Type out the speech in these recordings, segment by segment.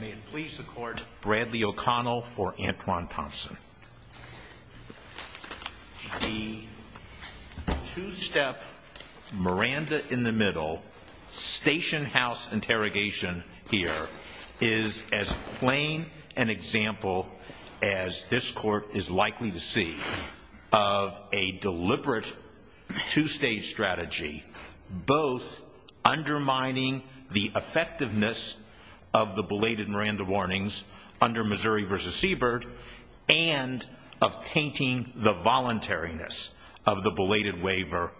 May it please the court, Bradley O'Connell for Antwion Thompson. The two-step, Miranda in the middle, station house interrogation here is as plain an example as this court is likely to see of a deliberate two-stage strategy both undermining the effectiveness of the belated Miranda warnings under Missouri v. Siebert and of tainting the voluntariness of the belated waiver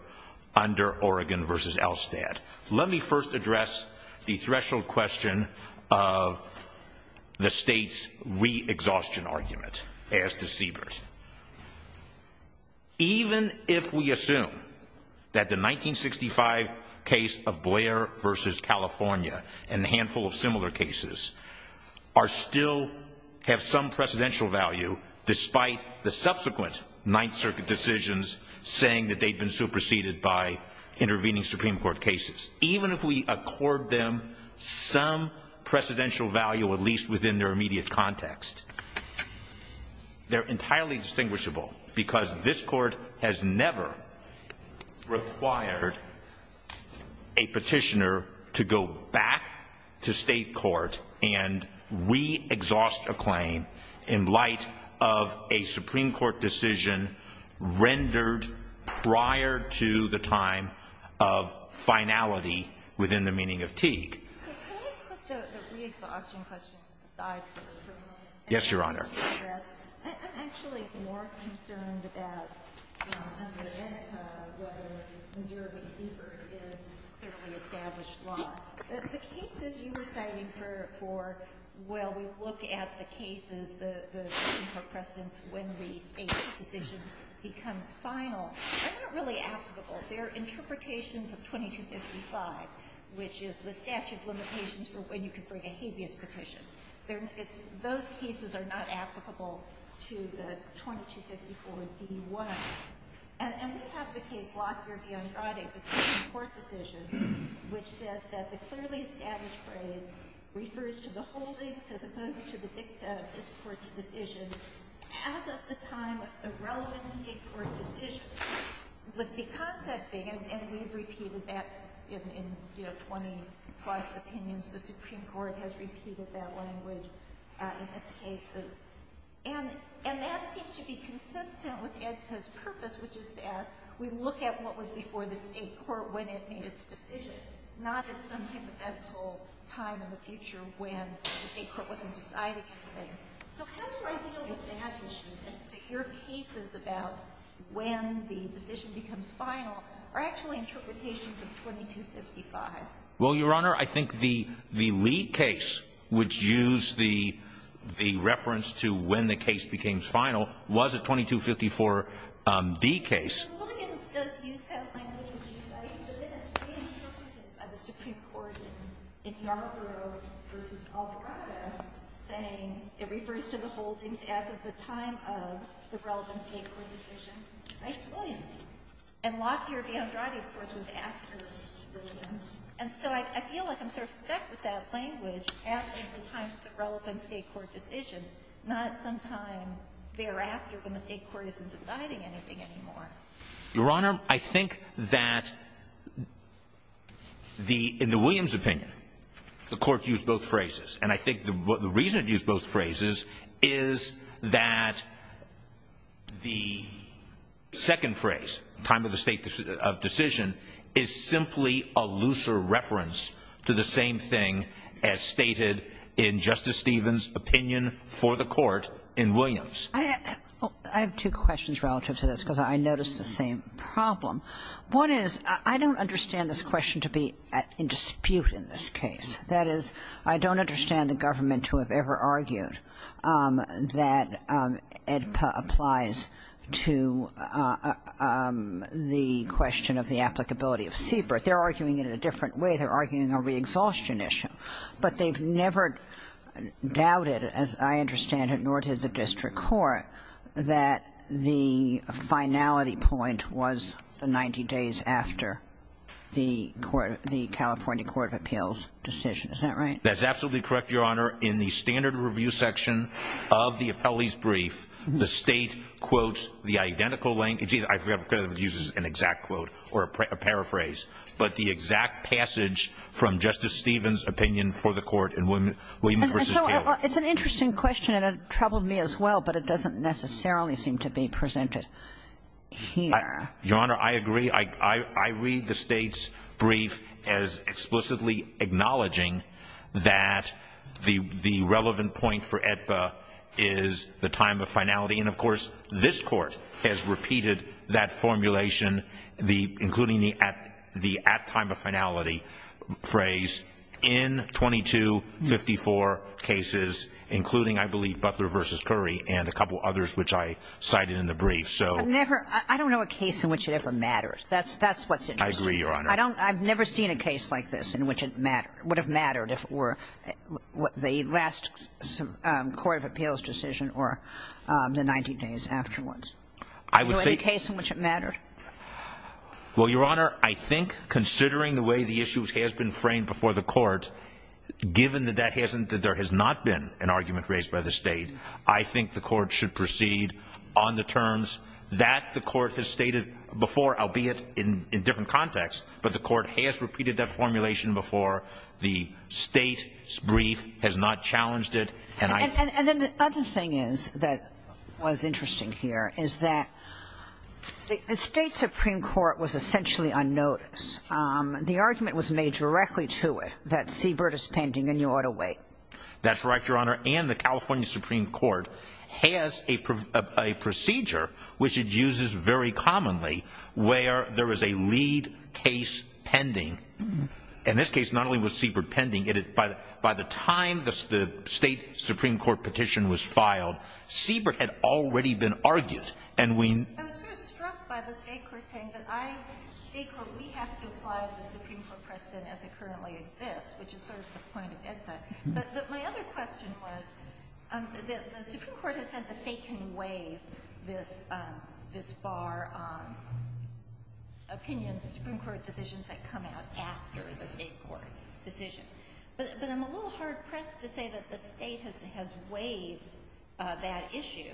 under Oregon v. Elstad. Let me first address the threshold question of the state's re-exhaustion argument as to Siebert. Even if we assume that the 1965 case of Blair v. California and a handful of similar cases still have some precedential value despite the subsequent Ninth Circuit decisions saying that they'd been superseded by intervening Supreme Court cases. Even if we accord them some precedential value at least within their immediate context, they're entirely distinguishable because this court has never required a petitioner to go back to state court and re-exhaust a claim in light of a Supreme Court decision rendered prior to the time of finality within the meaning of Teague. Can I put the re-exhaustion question aside for a moment? Yes, Your Honor. I'm actually more concerned about whether Missouri v. Siebert is a clearly established law. The cases you were citing for, well, we look at the cases, the Supreme Court precedents when the State's decision becomes final, are not really applicable. They're interpretations of 2255, which is the statute of limitations for when you can bring a habeas petition. Those cases are not applicable to the 2254d-1. And we have the case Lockyer v. Andrade, the Supreme Court decision, which says that the clearly established phrase refers to the holdings as opposed to the dicta of this Court's decision as of the time of the relevant State court decision. But because that thing, and we've repeated that in, you know, 20-plus opinions, the Supreme Court has repeated that language in its cases. And that seems to be consistent with EDCA's purpose, which is that we look at what was before the State court when it made its decision, not at some hypothetical time in the future when the State court wasn't deciding anything. So how do I deal with that? Your cases about when the decision becomes final are actually interpretations of 2255. Well, Your Honor, I think the Lee case, which used the reference to when the case became final, was a 2254d case. Mr. Williams does use that language in his case, but then it's reinterpreted by the Supreme Court in Yarbrough v. Alvarado, saying it refers to the holdings as of the time of the relevant State court decision by Williams. And Lockyer v. Andrade, of course, was after Williams. And so I feel like I'm sort of stuck with that language as of the time of the relevant State court decision, not sometime thereafter when the State court isn't deciding anything anymore. Your Honor, I think that in the Williams opinion, the Court used both phrases. And I think the reason it used both phrases is that the second phrase, time of the State decision, is simply a looser reference to the same thing as stated in Justice Stevens' opinion for the Court in Williams. I have two questions relative to this because I noticed the same problem. One is I don't understand this question to be in dispute in this case. That is, I don't understand the government to have ever argued that AEDPA applies to the question of the applicability of CBER. They're arguing it in a different way. They're arguing a re-exhaustion issue. But they've never doubted, as I understand it, nor did the district court, that the finality point was the 90 days after the California Court of Appeals decision. Is that right? That's absolutely correct, Your Honor. In the standard review section of the appellee's brief, the State quotes the identical language. I forget if it uses an exact quote or a paraphrase. But the exact passage from Justice Stevens' opinion for the Court in Williams v. Taylor. Well, it's an interesting question and it troubled me as well, but it doesn't necessarily seem to be presented here. Your Honor, I agree. I read the State's brief as explicitly acknowledging that the relevant point for AEDPA is the time of finality. And, of course, this Court has repeated that formulation, including the at time of finality phrase, in 2254 cases, including, I believe, Butler v. Curry and a couple others which I cited in the brief. I don't know a case in which it ever matters. That's what's interesting. I agree, Your Honor. I've never seen a case like this in which it would have mattered if it were the last Court of Appeals decision or the 90 days afterwards. I would say the case in which it mattered. Well, Your Honor, I think considering the way the issue has been framed before the Court, given that there has not been an argument raised by the State, I think the Court should proceed on the terms that the Court has stated before, albeit in different contexts, but the Court has repeated that formulation before. The State's brief has not challenged it. And then the other thing that was interesting here is that the State Supreme Court was essentially unnoticed. The argument was made directly to it that Seabird is pending and you ought to wait. That's right, Your Honor. Supreme Court has a procedure which it uses very commonly where there is a lead case pending. In this case, not only was Seabird pending, but by the time the State Supreme Court petition was filed, Seabird had already been argued. I was sort of struck by the State Court saying that we have to apply the Supreme Court precedent as it currently exists, which is sort of the point of EDPA. But my other question was, the Supreme Court has said the State can waive this bar on opinions, Supreme Court decisions that come out after the State Court decision. But I'm a little hard-pressed to say that the State has waived that issue,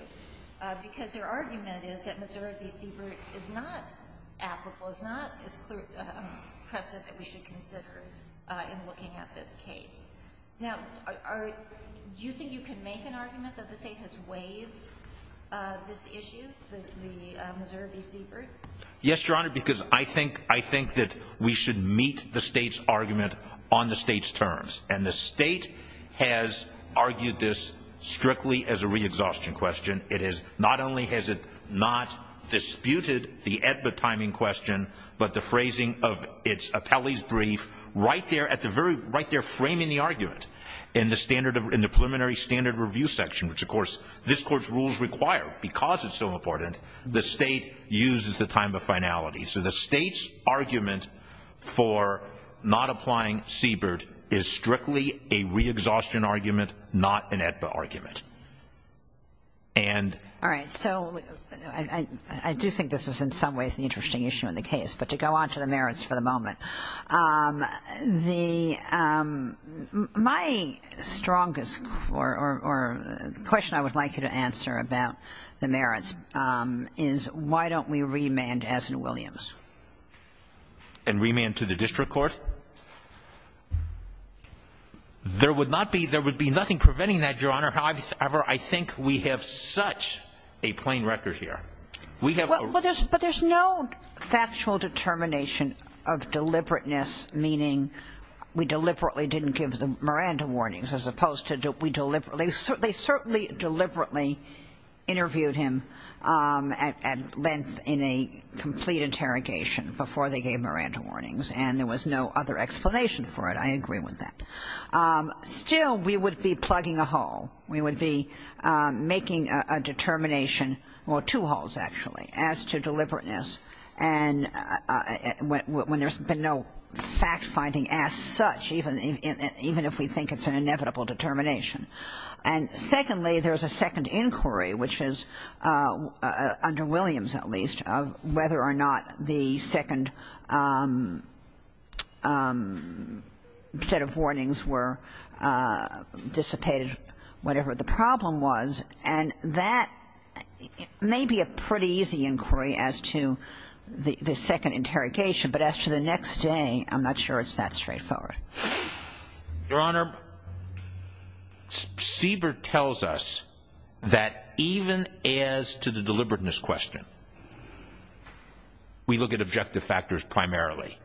because their argument is that Missouri v. Seabird is not applicable, is not as clear a precedent that we should consider in looking at this case. Now, do you think you can make an argument that the State has waived this issue, the Missouri v. Seabird? Yes, Your Honor, because I think that we should meet the State's argument on the State's terms. And the State has argued this strictly as a re-exhaustion question. Not only has it not disputed the EDPA timing question, but the phrasing of its appellee's brief right there framing the argument in the preliminary standard review section, which, of course, this Court's rules require, because it's so important, the State uses the time of finality. So the State's argument for not applying Seabird is strictly a re-exhaustion argument, not an EDPA argument. And — All right. So I do think this is in some ways an interesting issue in the case. But to go on to the merits for the moment, the — my strongest or question I would like you to answer about the merits is why don't we remand as in Williams? And remand to the district court? There would not be — there would be nothing preventing that, Your Honor. However, I think we have such a plain record here. We have — But there's no factual determination of deliberateness, meaning we deliberately didn't give the Miranda warnings as opposed to we deliberately — they certainly deliberately interviewed him at length in a complete interrogation before they gave Miranda warnings. And there was no other explanation for it. I agree with that. Still, we would be plugging a hole. We would be making a determination — well, two holes, actually, as to deliberateness when there's been no fact-finding as such, even if we think it's an inevitable determination. And secondly, there's a second inquiry, which is under Williams, at least, of whether or not the second set of warnings were dissipated, whatever the problem was. And that may be a pretty easy inquiry as to the second interrogation, but as to the next day, I'm not sure it's that straightforward. Your Honor, Siebert tells us that even as to the deliberateness question, we look at objective factors primarily.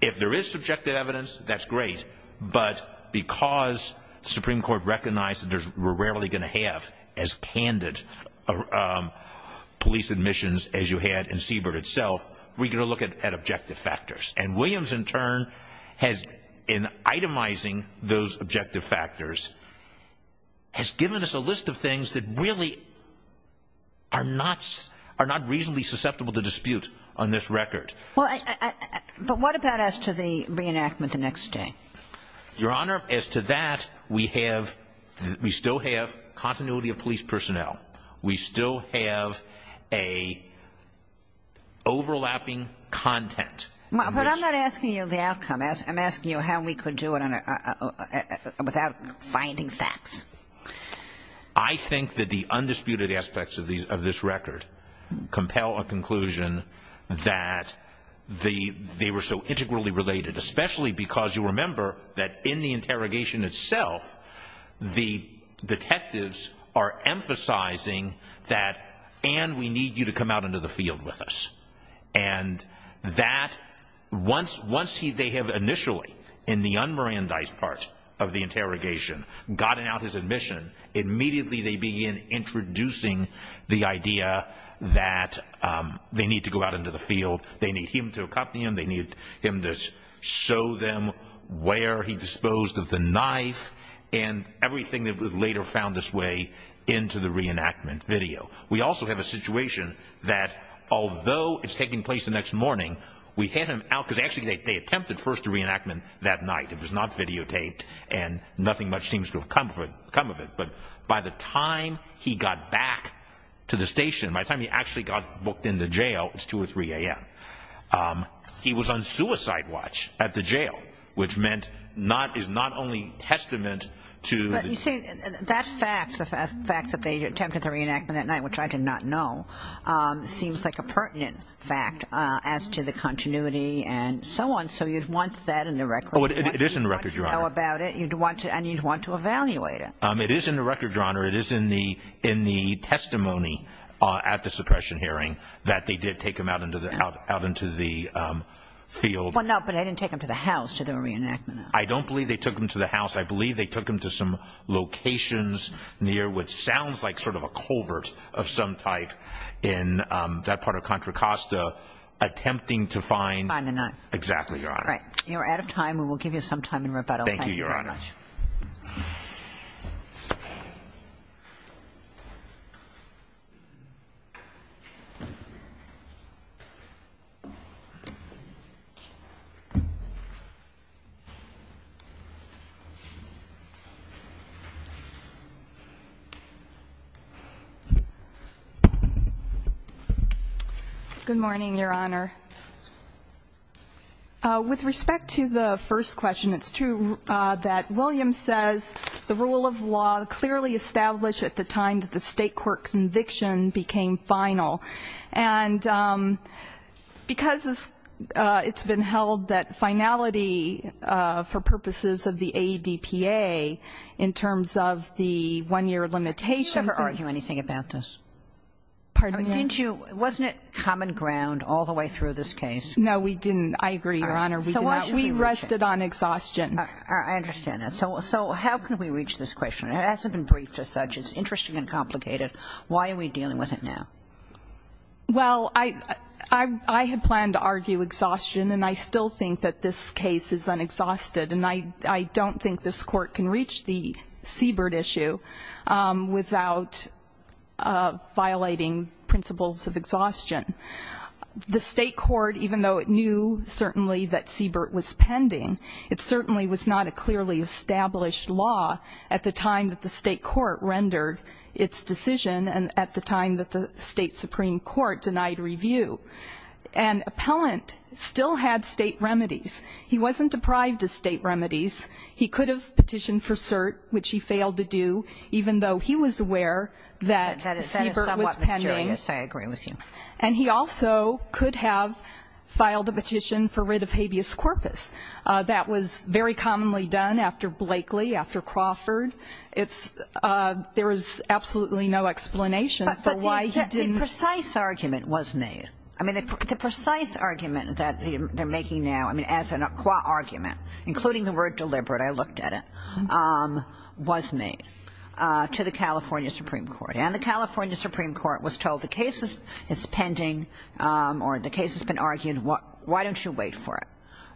If there is subjective evidence, that's great, but because the Supreme Court recognized that we're rarely going to have as candid police admissions as you had in Siebert itself, we're going to look at objective factors. And Williams, in turn, has, in itemizing those objective factors, has given us a list of things that really are not reasonably susceptible to dispute on this record. But what about as to the reenactment the next day? Your Honor, as to that, we still have continuity of police personnel. We still have an overlapping content. But I'm not asking you the outcome. I'm asking you how we could do it without finding facts. I think that the undisputed aspects of this record compel a conclusion that they were so integrally related, especially because you remember that in the interrogation itself, the detectives are emphasizing that, and we need you to come out into the field with us. And that once they have initially, in the un-Mirandized part of the interrogation, gotten out his admission, immediately they begin introducing the idea that they need to go out into the field. They need him to accompany them. They need him to show them where he disposed of the knife and everything that was later found this way into the reenactment video. We also have a situation that, although it's taking place the next morning, we had him out, because actually they attempted first the reenactment that night. It was not videotaped, and nothing much seems to have come of it. But by the time he got back to the station, by the time he actually got booked in the jail, it's 2 or 3 a.m., he was on suicide watch at the jail, which meant is not only testament to the- You see, that fact, the fact that they attempted the reenactment that night, which I did not know, seems like a pertinent fact as to the continuity and so on. So you'd want that in the record. It is in the record, Your Honor. You'd want to know about it, and you'd want to evaluate it. It is in the record, Your Honor. It is in the testimony at the suppression hearing that they did take him out into the field. Well, no, but they didn't take him to the house to do a reenactment. I don't believe they took him to the house. I believe they took him to some locations near what sounds like sort of a culvert of some type in that part of Contra Costa, attempting to find- Find the knife. Exactly, Your Honor. All right. You are out of time. We will give you some time in rebuttal. Thank you very much. Thank you. Good morning, Your Honor. With respect to the first question, it's true that Williams says the rule of law clearly established at the time that the State court conviction became final. And because it's been held that finality for purposes of the ADPA in terms of the one-year limitations- Did you ever argue anything about this? Pardon me? Didn't you- wasn't it common ground all the way through this case? No, we didn't. I agree, Your Honor. We did not- So why- We rested on exhaustion. I understand that. So how can we reach this question? It hasn't been briefed as such. It's interesting and complicated. Why are we dealing with it now? Well, I had planned to argue exhaustion, and I still think that this case is unexhausted. And I don't think this Court can reach the Siebert issue without violating principles of exhaustion. The State court, even though it knew certainly that Siebert was pending, it certainly was not a clearly established law at the time that the State court rendered its decision and at the time that the State Supreme Court denied review. And Appellant still had State remedies. He wasn't deprived of State remedies. He could have petitioned for cert, which he failed to do, even though he was aware that Siebert was pending. That is somewhat mysterious. I agree with you. And he also could have filed a petition for writ of habeas corpus. That was very commonly done after Blakely, after Crawford. There is absolutely no explanation for why he didn't- But the precise argument was made. I mean, the precise argument that they're making now, I mean, as a qua-argument, including the word deliberate, I looked at it, was made to the California Supreme Court. And the California Supreme Court was told the case is pending or the case has been argued. Why don't you wait for it?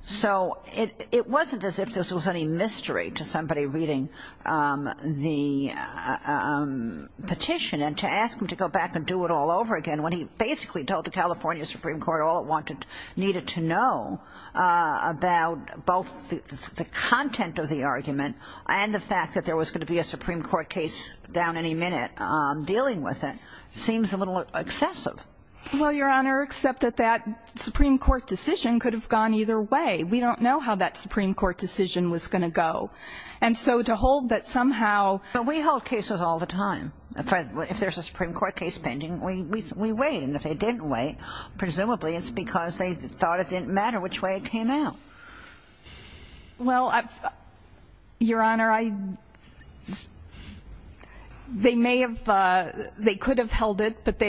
So it wasn't as if this was any mystery to somebody reading the petition. And to ask him to go back and do it all over again, when he basically told the California Supreme Court all it needed to know about both the content of the argument and the fact that there was going to be a Supreme Court case down any minute dealing with it, seems a little excessive. Well, Your Honor, except that that Supreme Court decision could have gone either way. We don't know how that Supreme Court decision was going to go. And so to hold that somehow- Well, we hold cases all the time. If there's a Supreme Court case pending, we wait. And if they didn't wait, presumably it's because they thought it didn't matter which way it came out. Well, Your Honor, they may have-they could have held it, but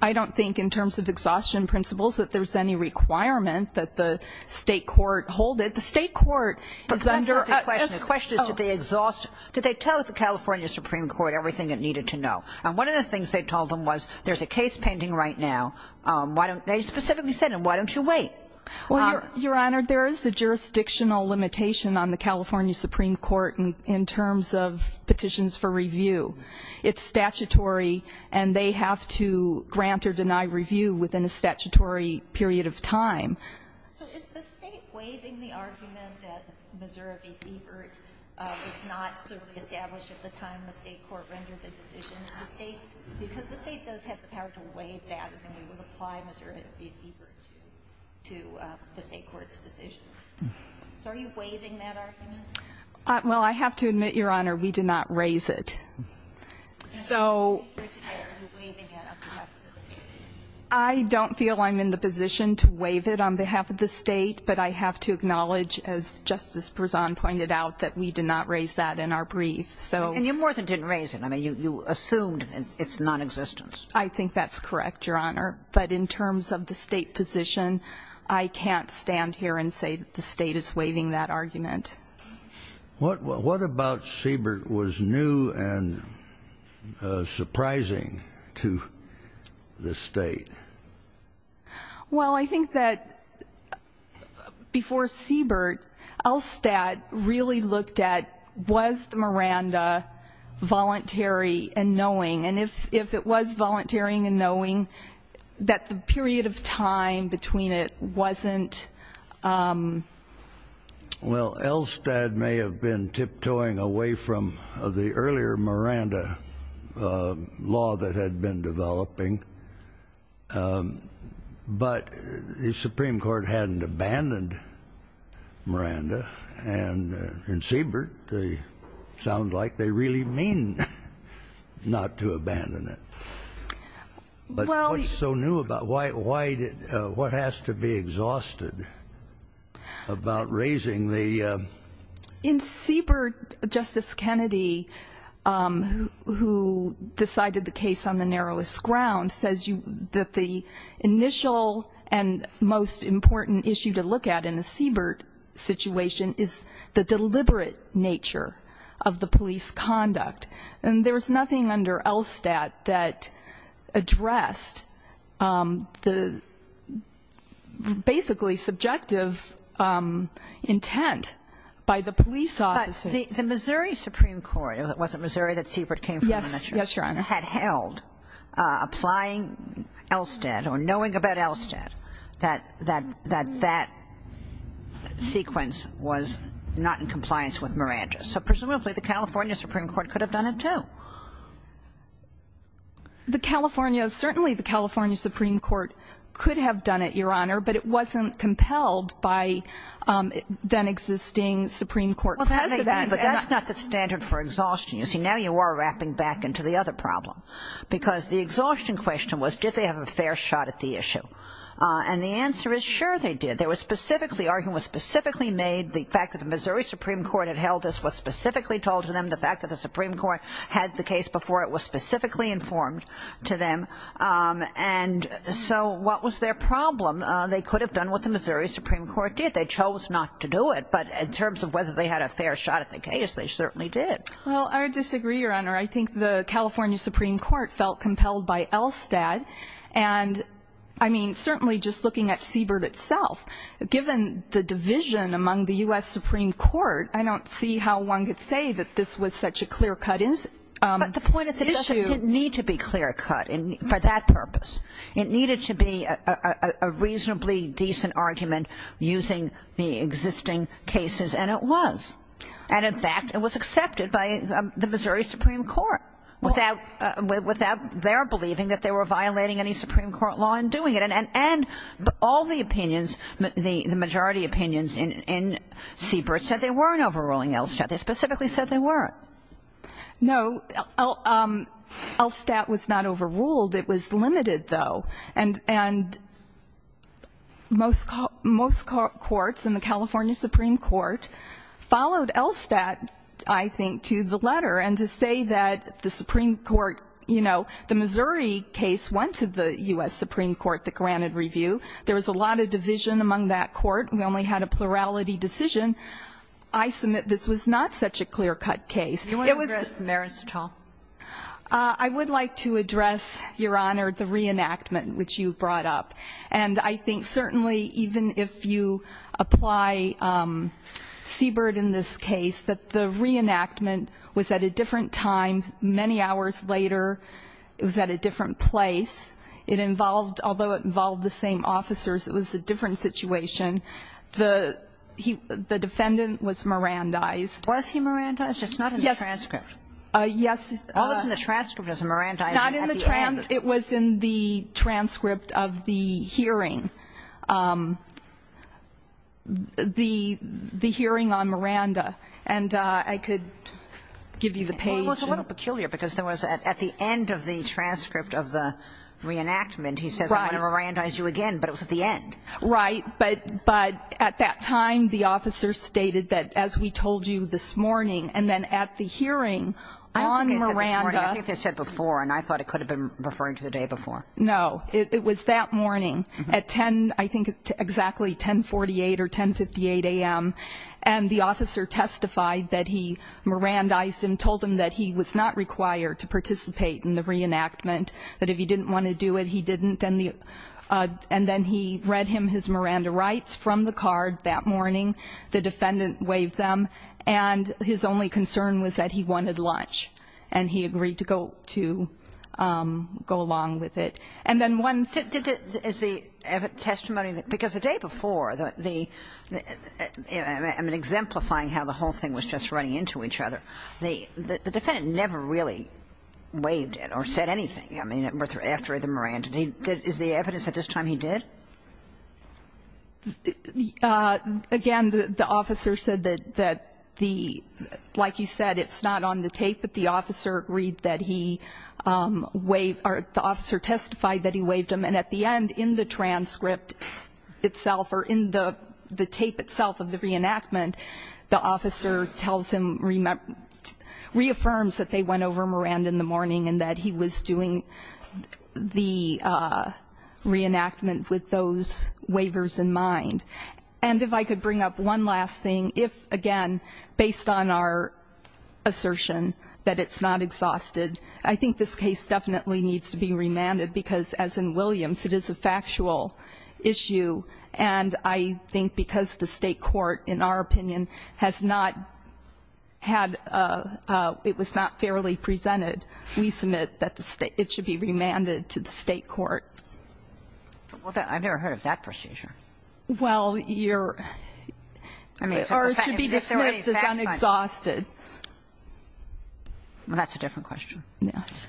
I don't think in terms of exhaustion principles that there's any requirement that the state court hold it. The state court is under- Well, Your Honor, there is a jurisdictional limitation on the California Supreme Court in terms of petitions for review. It's statutory, and they have to grant or deny review within a statutory period of time. So is the state waiving the argument that Missouri v. Seabird was not clearly established at the time the state court rendered the decision? Is the state-because the state does have the power to waive that, and then we would apply Missouri v. Seabird to the state court's decision. So are you waiving that argument? Well, I have to admit, Your Honor, we did not raise it. So- Are you waiving it on behalf of the state? I don't feel I'm in the position to waive it on behalf of the state, but I have to acknowledge, as Justice Bresson pointed out, that we did not raise that in our brief. And you more than didn't raise it. I mean, you assumed its nonexistence. I think that's correct, Your Honor. But in terms of the state position, I can't stand here and say the state is waiving that argument. What about Seabird was new and surprising to the state? Well, I think that before Seabird, Elstad really looked at was the Miranda voluntary and knowing. And if it was voluntary and knowing, that the period of time between it wasn't- Well, Elstad may have been tiptoeing away from the earlier Miranda law that had been developing, but the Supreme Court hadn't abandoned Miranda. And in Seabird, they sound like they really mean not to abandon it. But what's so new about it? What has to be exhausted about raising the- In Seabird, Justice Kennedy, who decided the case on the narrowest ground, says that the initial and most important issue to look at in the Seabird situation is the deliberate nature of the police conduct. And there was nothing under Elstad that addressed the basically subjective intent by the police officers. But the Missouri Supreme Court- Was it Missouri that Seabird came from? Yes, Your Honor. Had held, applying Elstad or knowing about Elstad, that that sequence was not in compliance with Miranda. So presumably the California Supreme Court could have done it, too. The California- Certainly the California Supreme Court could have done it, Your Honor, but it wasn't compelled by then-existing Supreme Court presidents. Well, that may be, but that's not the standard for exhaustion. You see, now you are wrapping back into the other problem. Because the exhaustion question was, did they have a fair shot at the issue? And the answer is, sure, they did. They were specifically arguing, was specifically made, the fact that the Missouri Supreme Court had held this was specifically told to them, the fact that the Supreme Court had the case before it was specifically informed to them. And so what was their problem? They could have done what the Missouri Supreme Court did. They chose not to do it. But in terms of whether they had a fair shot at the case, they certainly did. Well, I would disagree, Your Honor. I think the California Supreme Court felt compelled by Elstad. And, I mean, certainly just looking at Siebert itself, given the division among the U.S. Supreme Court, I don't see how one could say that this was such a clear-cut issue. But the point is it doesn't need to be clear-cut for that purpose. It needed to be a reasonably decent argument using the existing cases, and it was. And, in fact, it was accepted by the Missouri Supreme Court without their believing that they were violating any Supreme Court law in doing it. And all the opinions, the majority opinions in Siebert said they weren't overruling Elstad. They specifically said they weren't. No. Elstad was not overruled. It was limited, though. And most courts in the California Supreme Court followed Elstad, I think, to the letter and to say that the Supreme Court, you know, the Missouri case went to the U.S. Supreme Court that granted review. There was a lot of division among that court. We only had a plurality decision. I submit this was not such a clear-cut case. It was the ---- Do you want to address the merits at all? I would like to address, Your Honor, the reenactment which you brought up. And I think certainly even if you apply Siebert in this case, that the reenactment was at a different time many hours later. It was at a different place. It involved, although it involved the same officers, it was a different situation. The defendant was Mirandized. Was he Mirandized? It's not in the transcript. Yes. All that's in the transcript is a Mirandized. Not in the transcript. It was in the transcript of the hearing, the hearing on Miranda. And I could give you the page. Well, it was a little peculiar because there was at the end of the transcript of the reenactment, he says, I'm going to Mirandize you again. But it was at the end. Right. But at that time, the officer stated that as we told you this morning, and then at the hearing on Miranda ---- I don't think they said this morning. I think they said before. And I thought it could have been referring to the day before. No. It was that morning at 10, I think exactly 1048 or 1058 a.m. And the officer testified that he Mirandized him, told him that he was not required to participate in the reenactment, that if he didn't want to do it, he didn't. And then he read him his Miranda rights from the card that morning. The defendant waived them. And his only concern was that he wanted lunch. And he agreed to go along with it. And then one ---- Is the testimony ---- because the day before, the ---- I mean, exemplifying how the whole thing was just running into each other, the defendant never really waived it or said anything, I mean, after the Miranda. Is the evidence at this time he did? Again, the officer said that the ---- like you said, it's not on the tape, but the officer agreed that he waived or the officer testified that he waived him. And at the end, in the transcript itself or in the tape itself of the reenactment, the officer tells him, reaffirms that they went over Miranda in the morning and that he was doing the reenactment with those waivers in mind. And if I could bring up one last thing. If, again, based on our assertion that it's not exhausted, I think this case definitely needs to be remanded because, as in Williams, it is a factual issue. And I think because the State court, in our opinion, has not had a ---- it was not fairly presented, we submit that the State ---- it should be remanded to the State court. Well, I've never heard of that procedure. Well, you're ---- Or it should be dismissed as unexhausted. Well, that's a different question. Yes.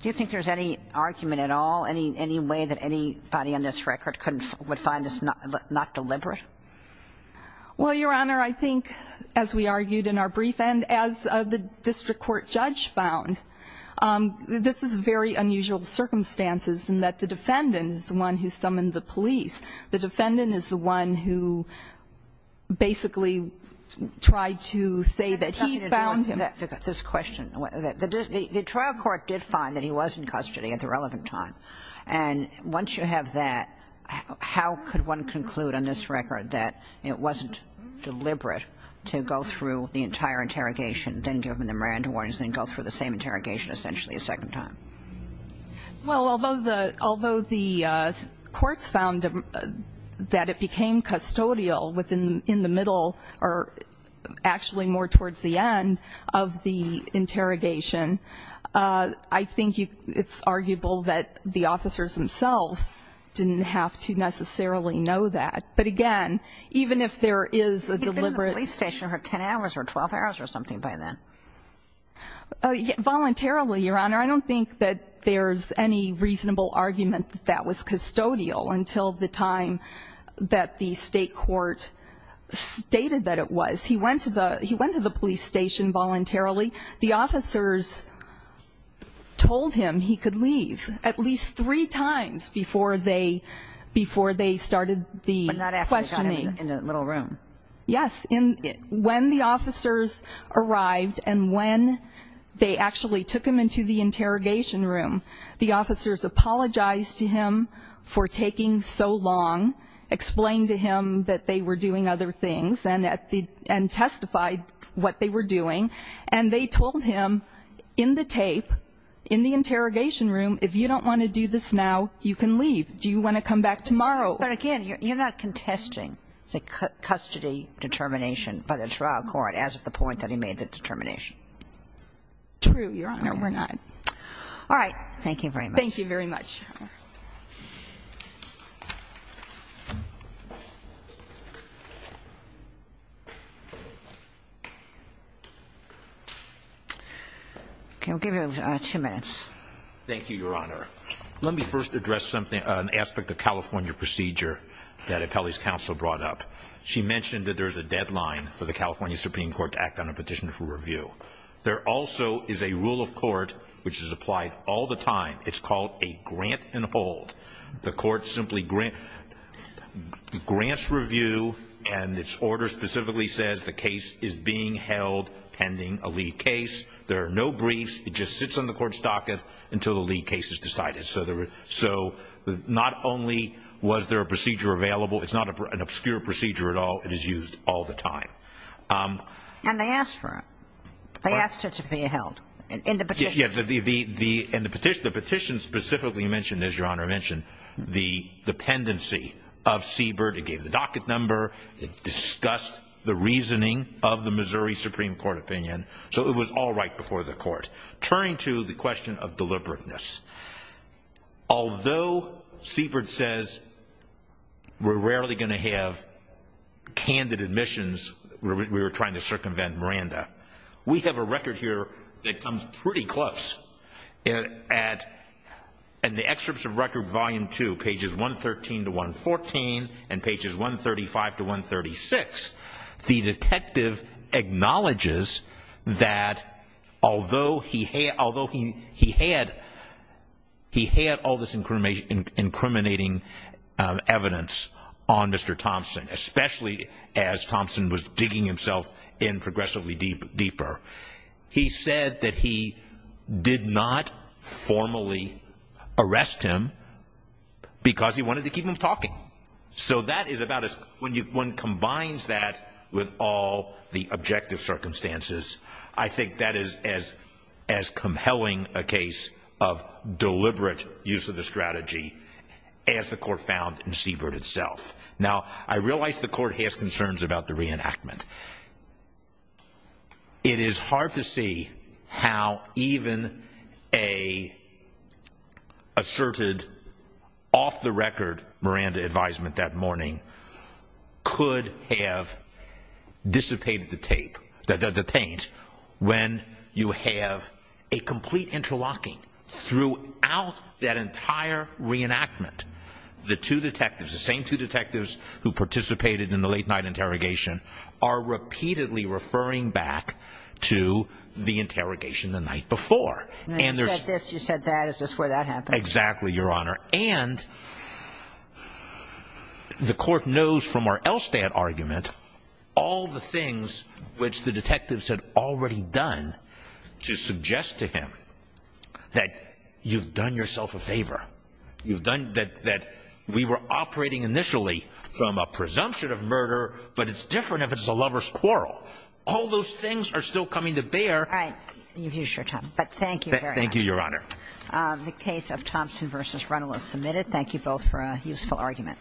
Do you think there's any argument at all, any way that anybody on this record would find this not deliberate? Well, Your Honor, I think, as we argued in our brief end, as the district court judge found, this is very unusual circumstances in that the defendant is the one who summoned the police. The defendant is the one who basically tried to say that he found him. The trial court did find that he was in custody at the relevant time. And once you have that, how could one conclude on this record that it wasn't deliberate to go through the entire interrogation, then give him the Miranda warnings, then go through the same interrogation essentially a second time? Well, although the ---- although the courts found that it became custodial within the middle or actually more towards the end of the interrogation, I think you ---- it's arguable that the officers themselves didn't have to necessarily know that. But again, even if there is a deliberate ---- He could have been in the police station for 10 hours or 12 hours or something by then. Voluntarily, Your Honor. I don't think that there's any reasonable argument that that was custodial until the time that the state court stated that it was. He went to the police station voluntarily. The officers told him he could leave at least three times before they started the questioning. But not after he got in the little room. Yes. When the officers arrived and when they actually took him into the interrogation room, the officers apologized to him for taking so long, explained to him that they were doing other things and testified what they were doing. And they told him in the tape, in the interrogation room, if you don't want to do this now, you can leave. Do you want to come back tomorrow? But again, you're not contesting the custody determination by the trial court as of the point that he made the determination. True, Your Honor. We're not. All right. Thank you very much. Thank you very much, Your Honor. Okay. We'll give you two minutes. Thank you, Your Honor. Let me first address an aspect of California procedure that Appellee's counsel brought up. She mentioned that there's a deadline for the California Supreme Court to act on a petition for review. There also is a rule of court which is applied all the time. It's called a grant and hold. The court simply grants review and its order specifically says the case is being held pending a lead case. There are no briefs. It just sits on the court's docket until the lead case is decided. So not only was there a procedure available, it's not an obscure procedure at all. It is used all the time. And they asked for it. They asked it to be held in the petition. Yes. And the petition specifically mentioned, as Your Honor mentioned, the dependency of Siebert. It gave the docket number. It discussed the reasoning of the Missouri Supreme Court opinion. So it was all right before the court. Turning to the question of deliberateness, although Siebert says we're rarely going to have candid admissions, we were trying to circumvent Miranda, we have a record here that comes pretty close. In the excerpts of record volume two, pages 113 to 114 and pages 135 to 136, the detective acknowledges that although he had all this incriminating evidence on Mr. Thompson, especially as Thompson was digging himself in progressively deeper, he said that he did not formally arrest him because he wanted to keep him talking. So that is about as – when one combines that with all the objective circumstances, I think that is as compelling a case of deliberate use of the strategy as the court found in Siebert itself. Now, I realize the court has concerns about the reenactment. It is hard to see how even a asserted off-the-record Miranda advisement that morning could have dissipated the taint when you have a complete interlocking throughout that entire reenactment. The two detectives, the same two detectives who participated in the late night interrogation, are repeatedly referring back to the interrogation the night before. And there's – You said this, you said that. Is this where that happened? Exactly, Your Honor. And the court knows from our Elstad argument all the things which the detectives had already done to suggest to him that you've done yourself a favor. You've done – that we were operating initially from a presumption of murder, but it's different if it's a lover's quarrel. All those things are still coming to bear. All right. You've used your time. But thank you very much. Thank you, Your Honor. The case of Thompson v. Runnell is submitted. Thank you both for a useful argument.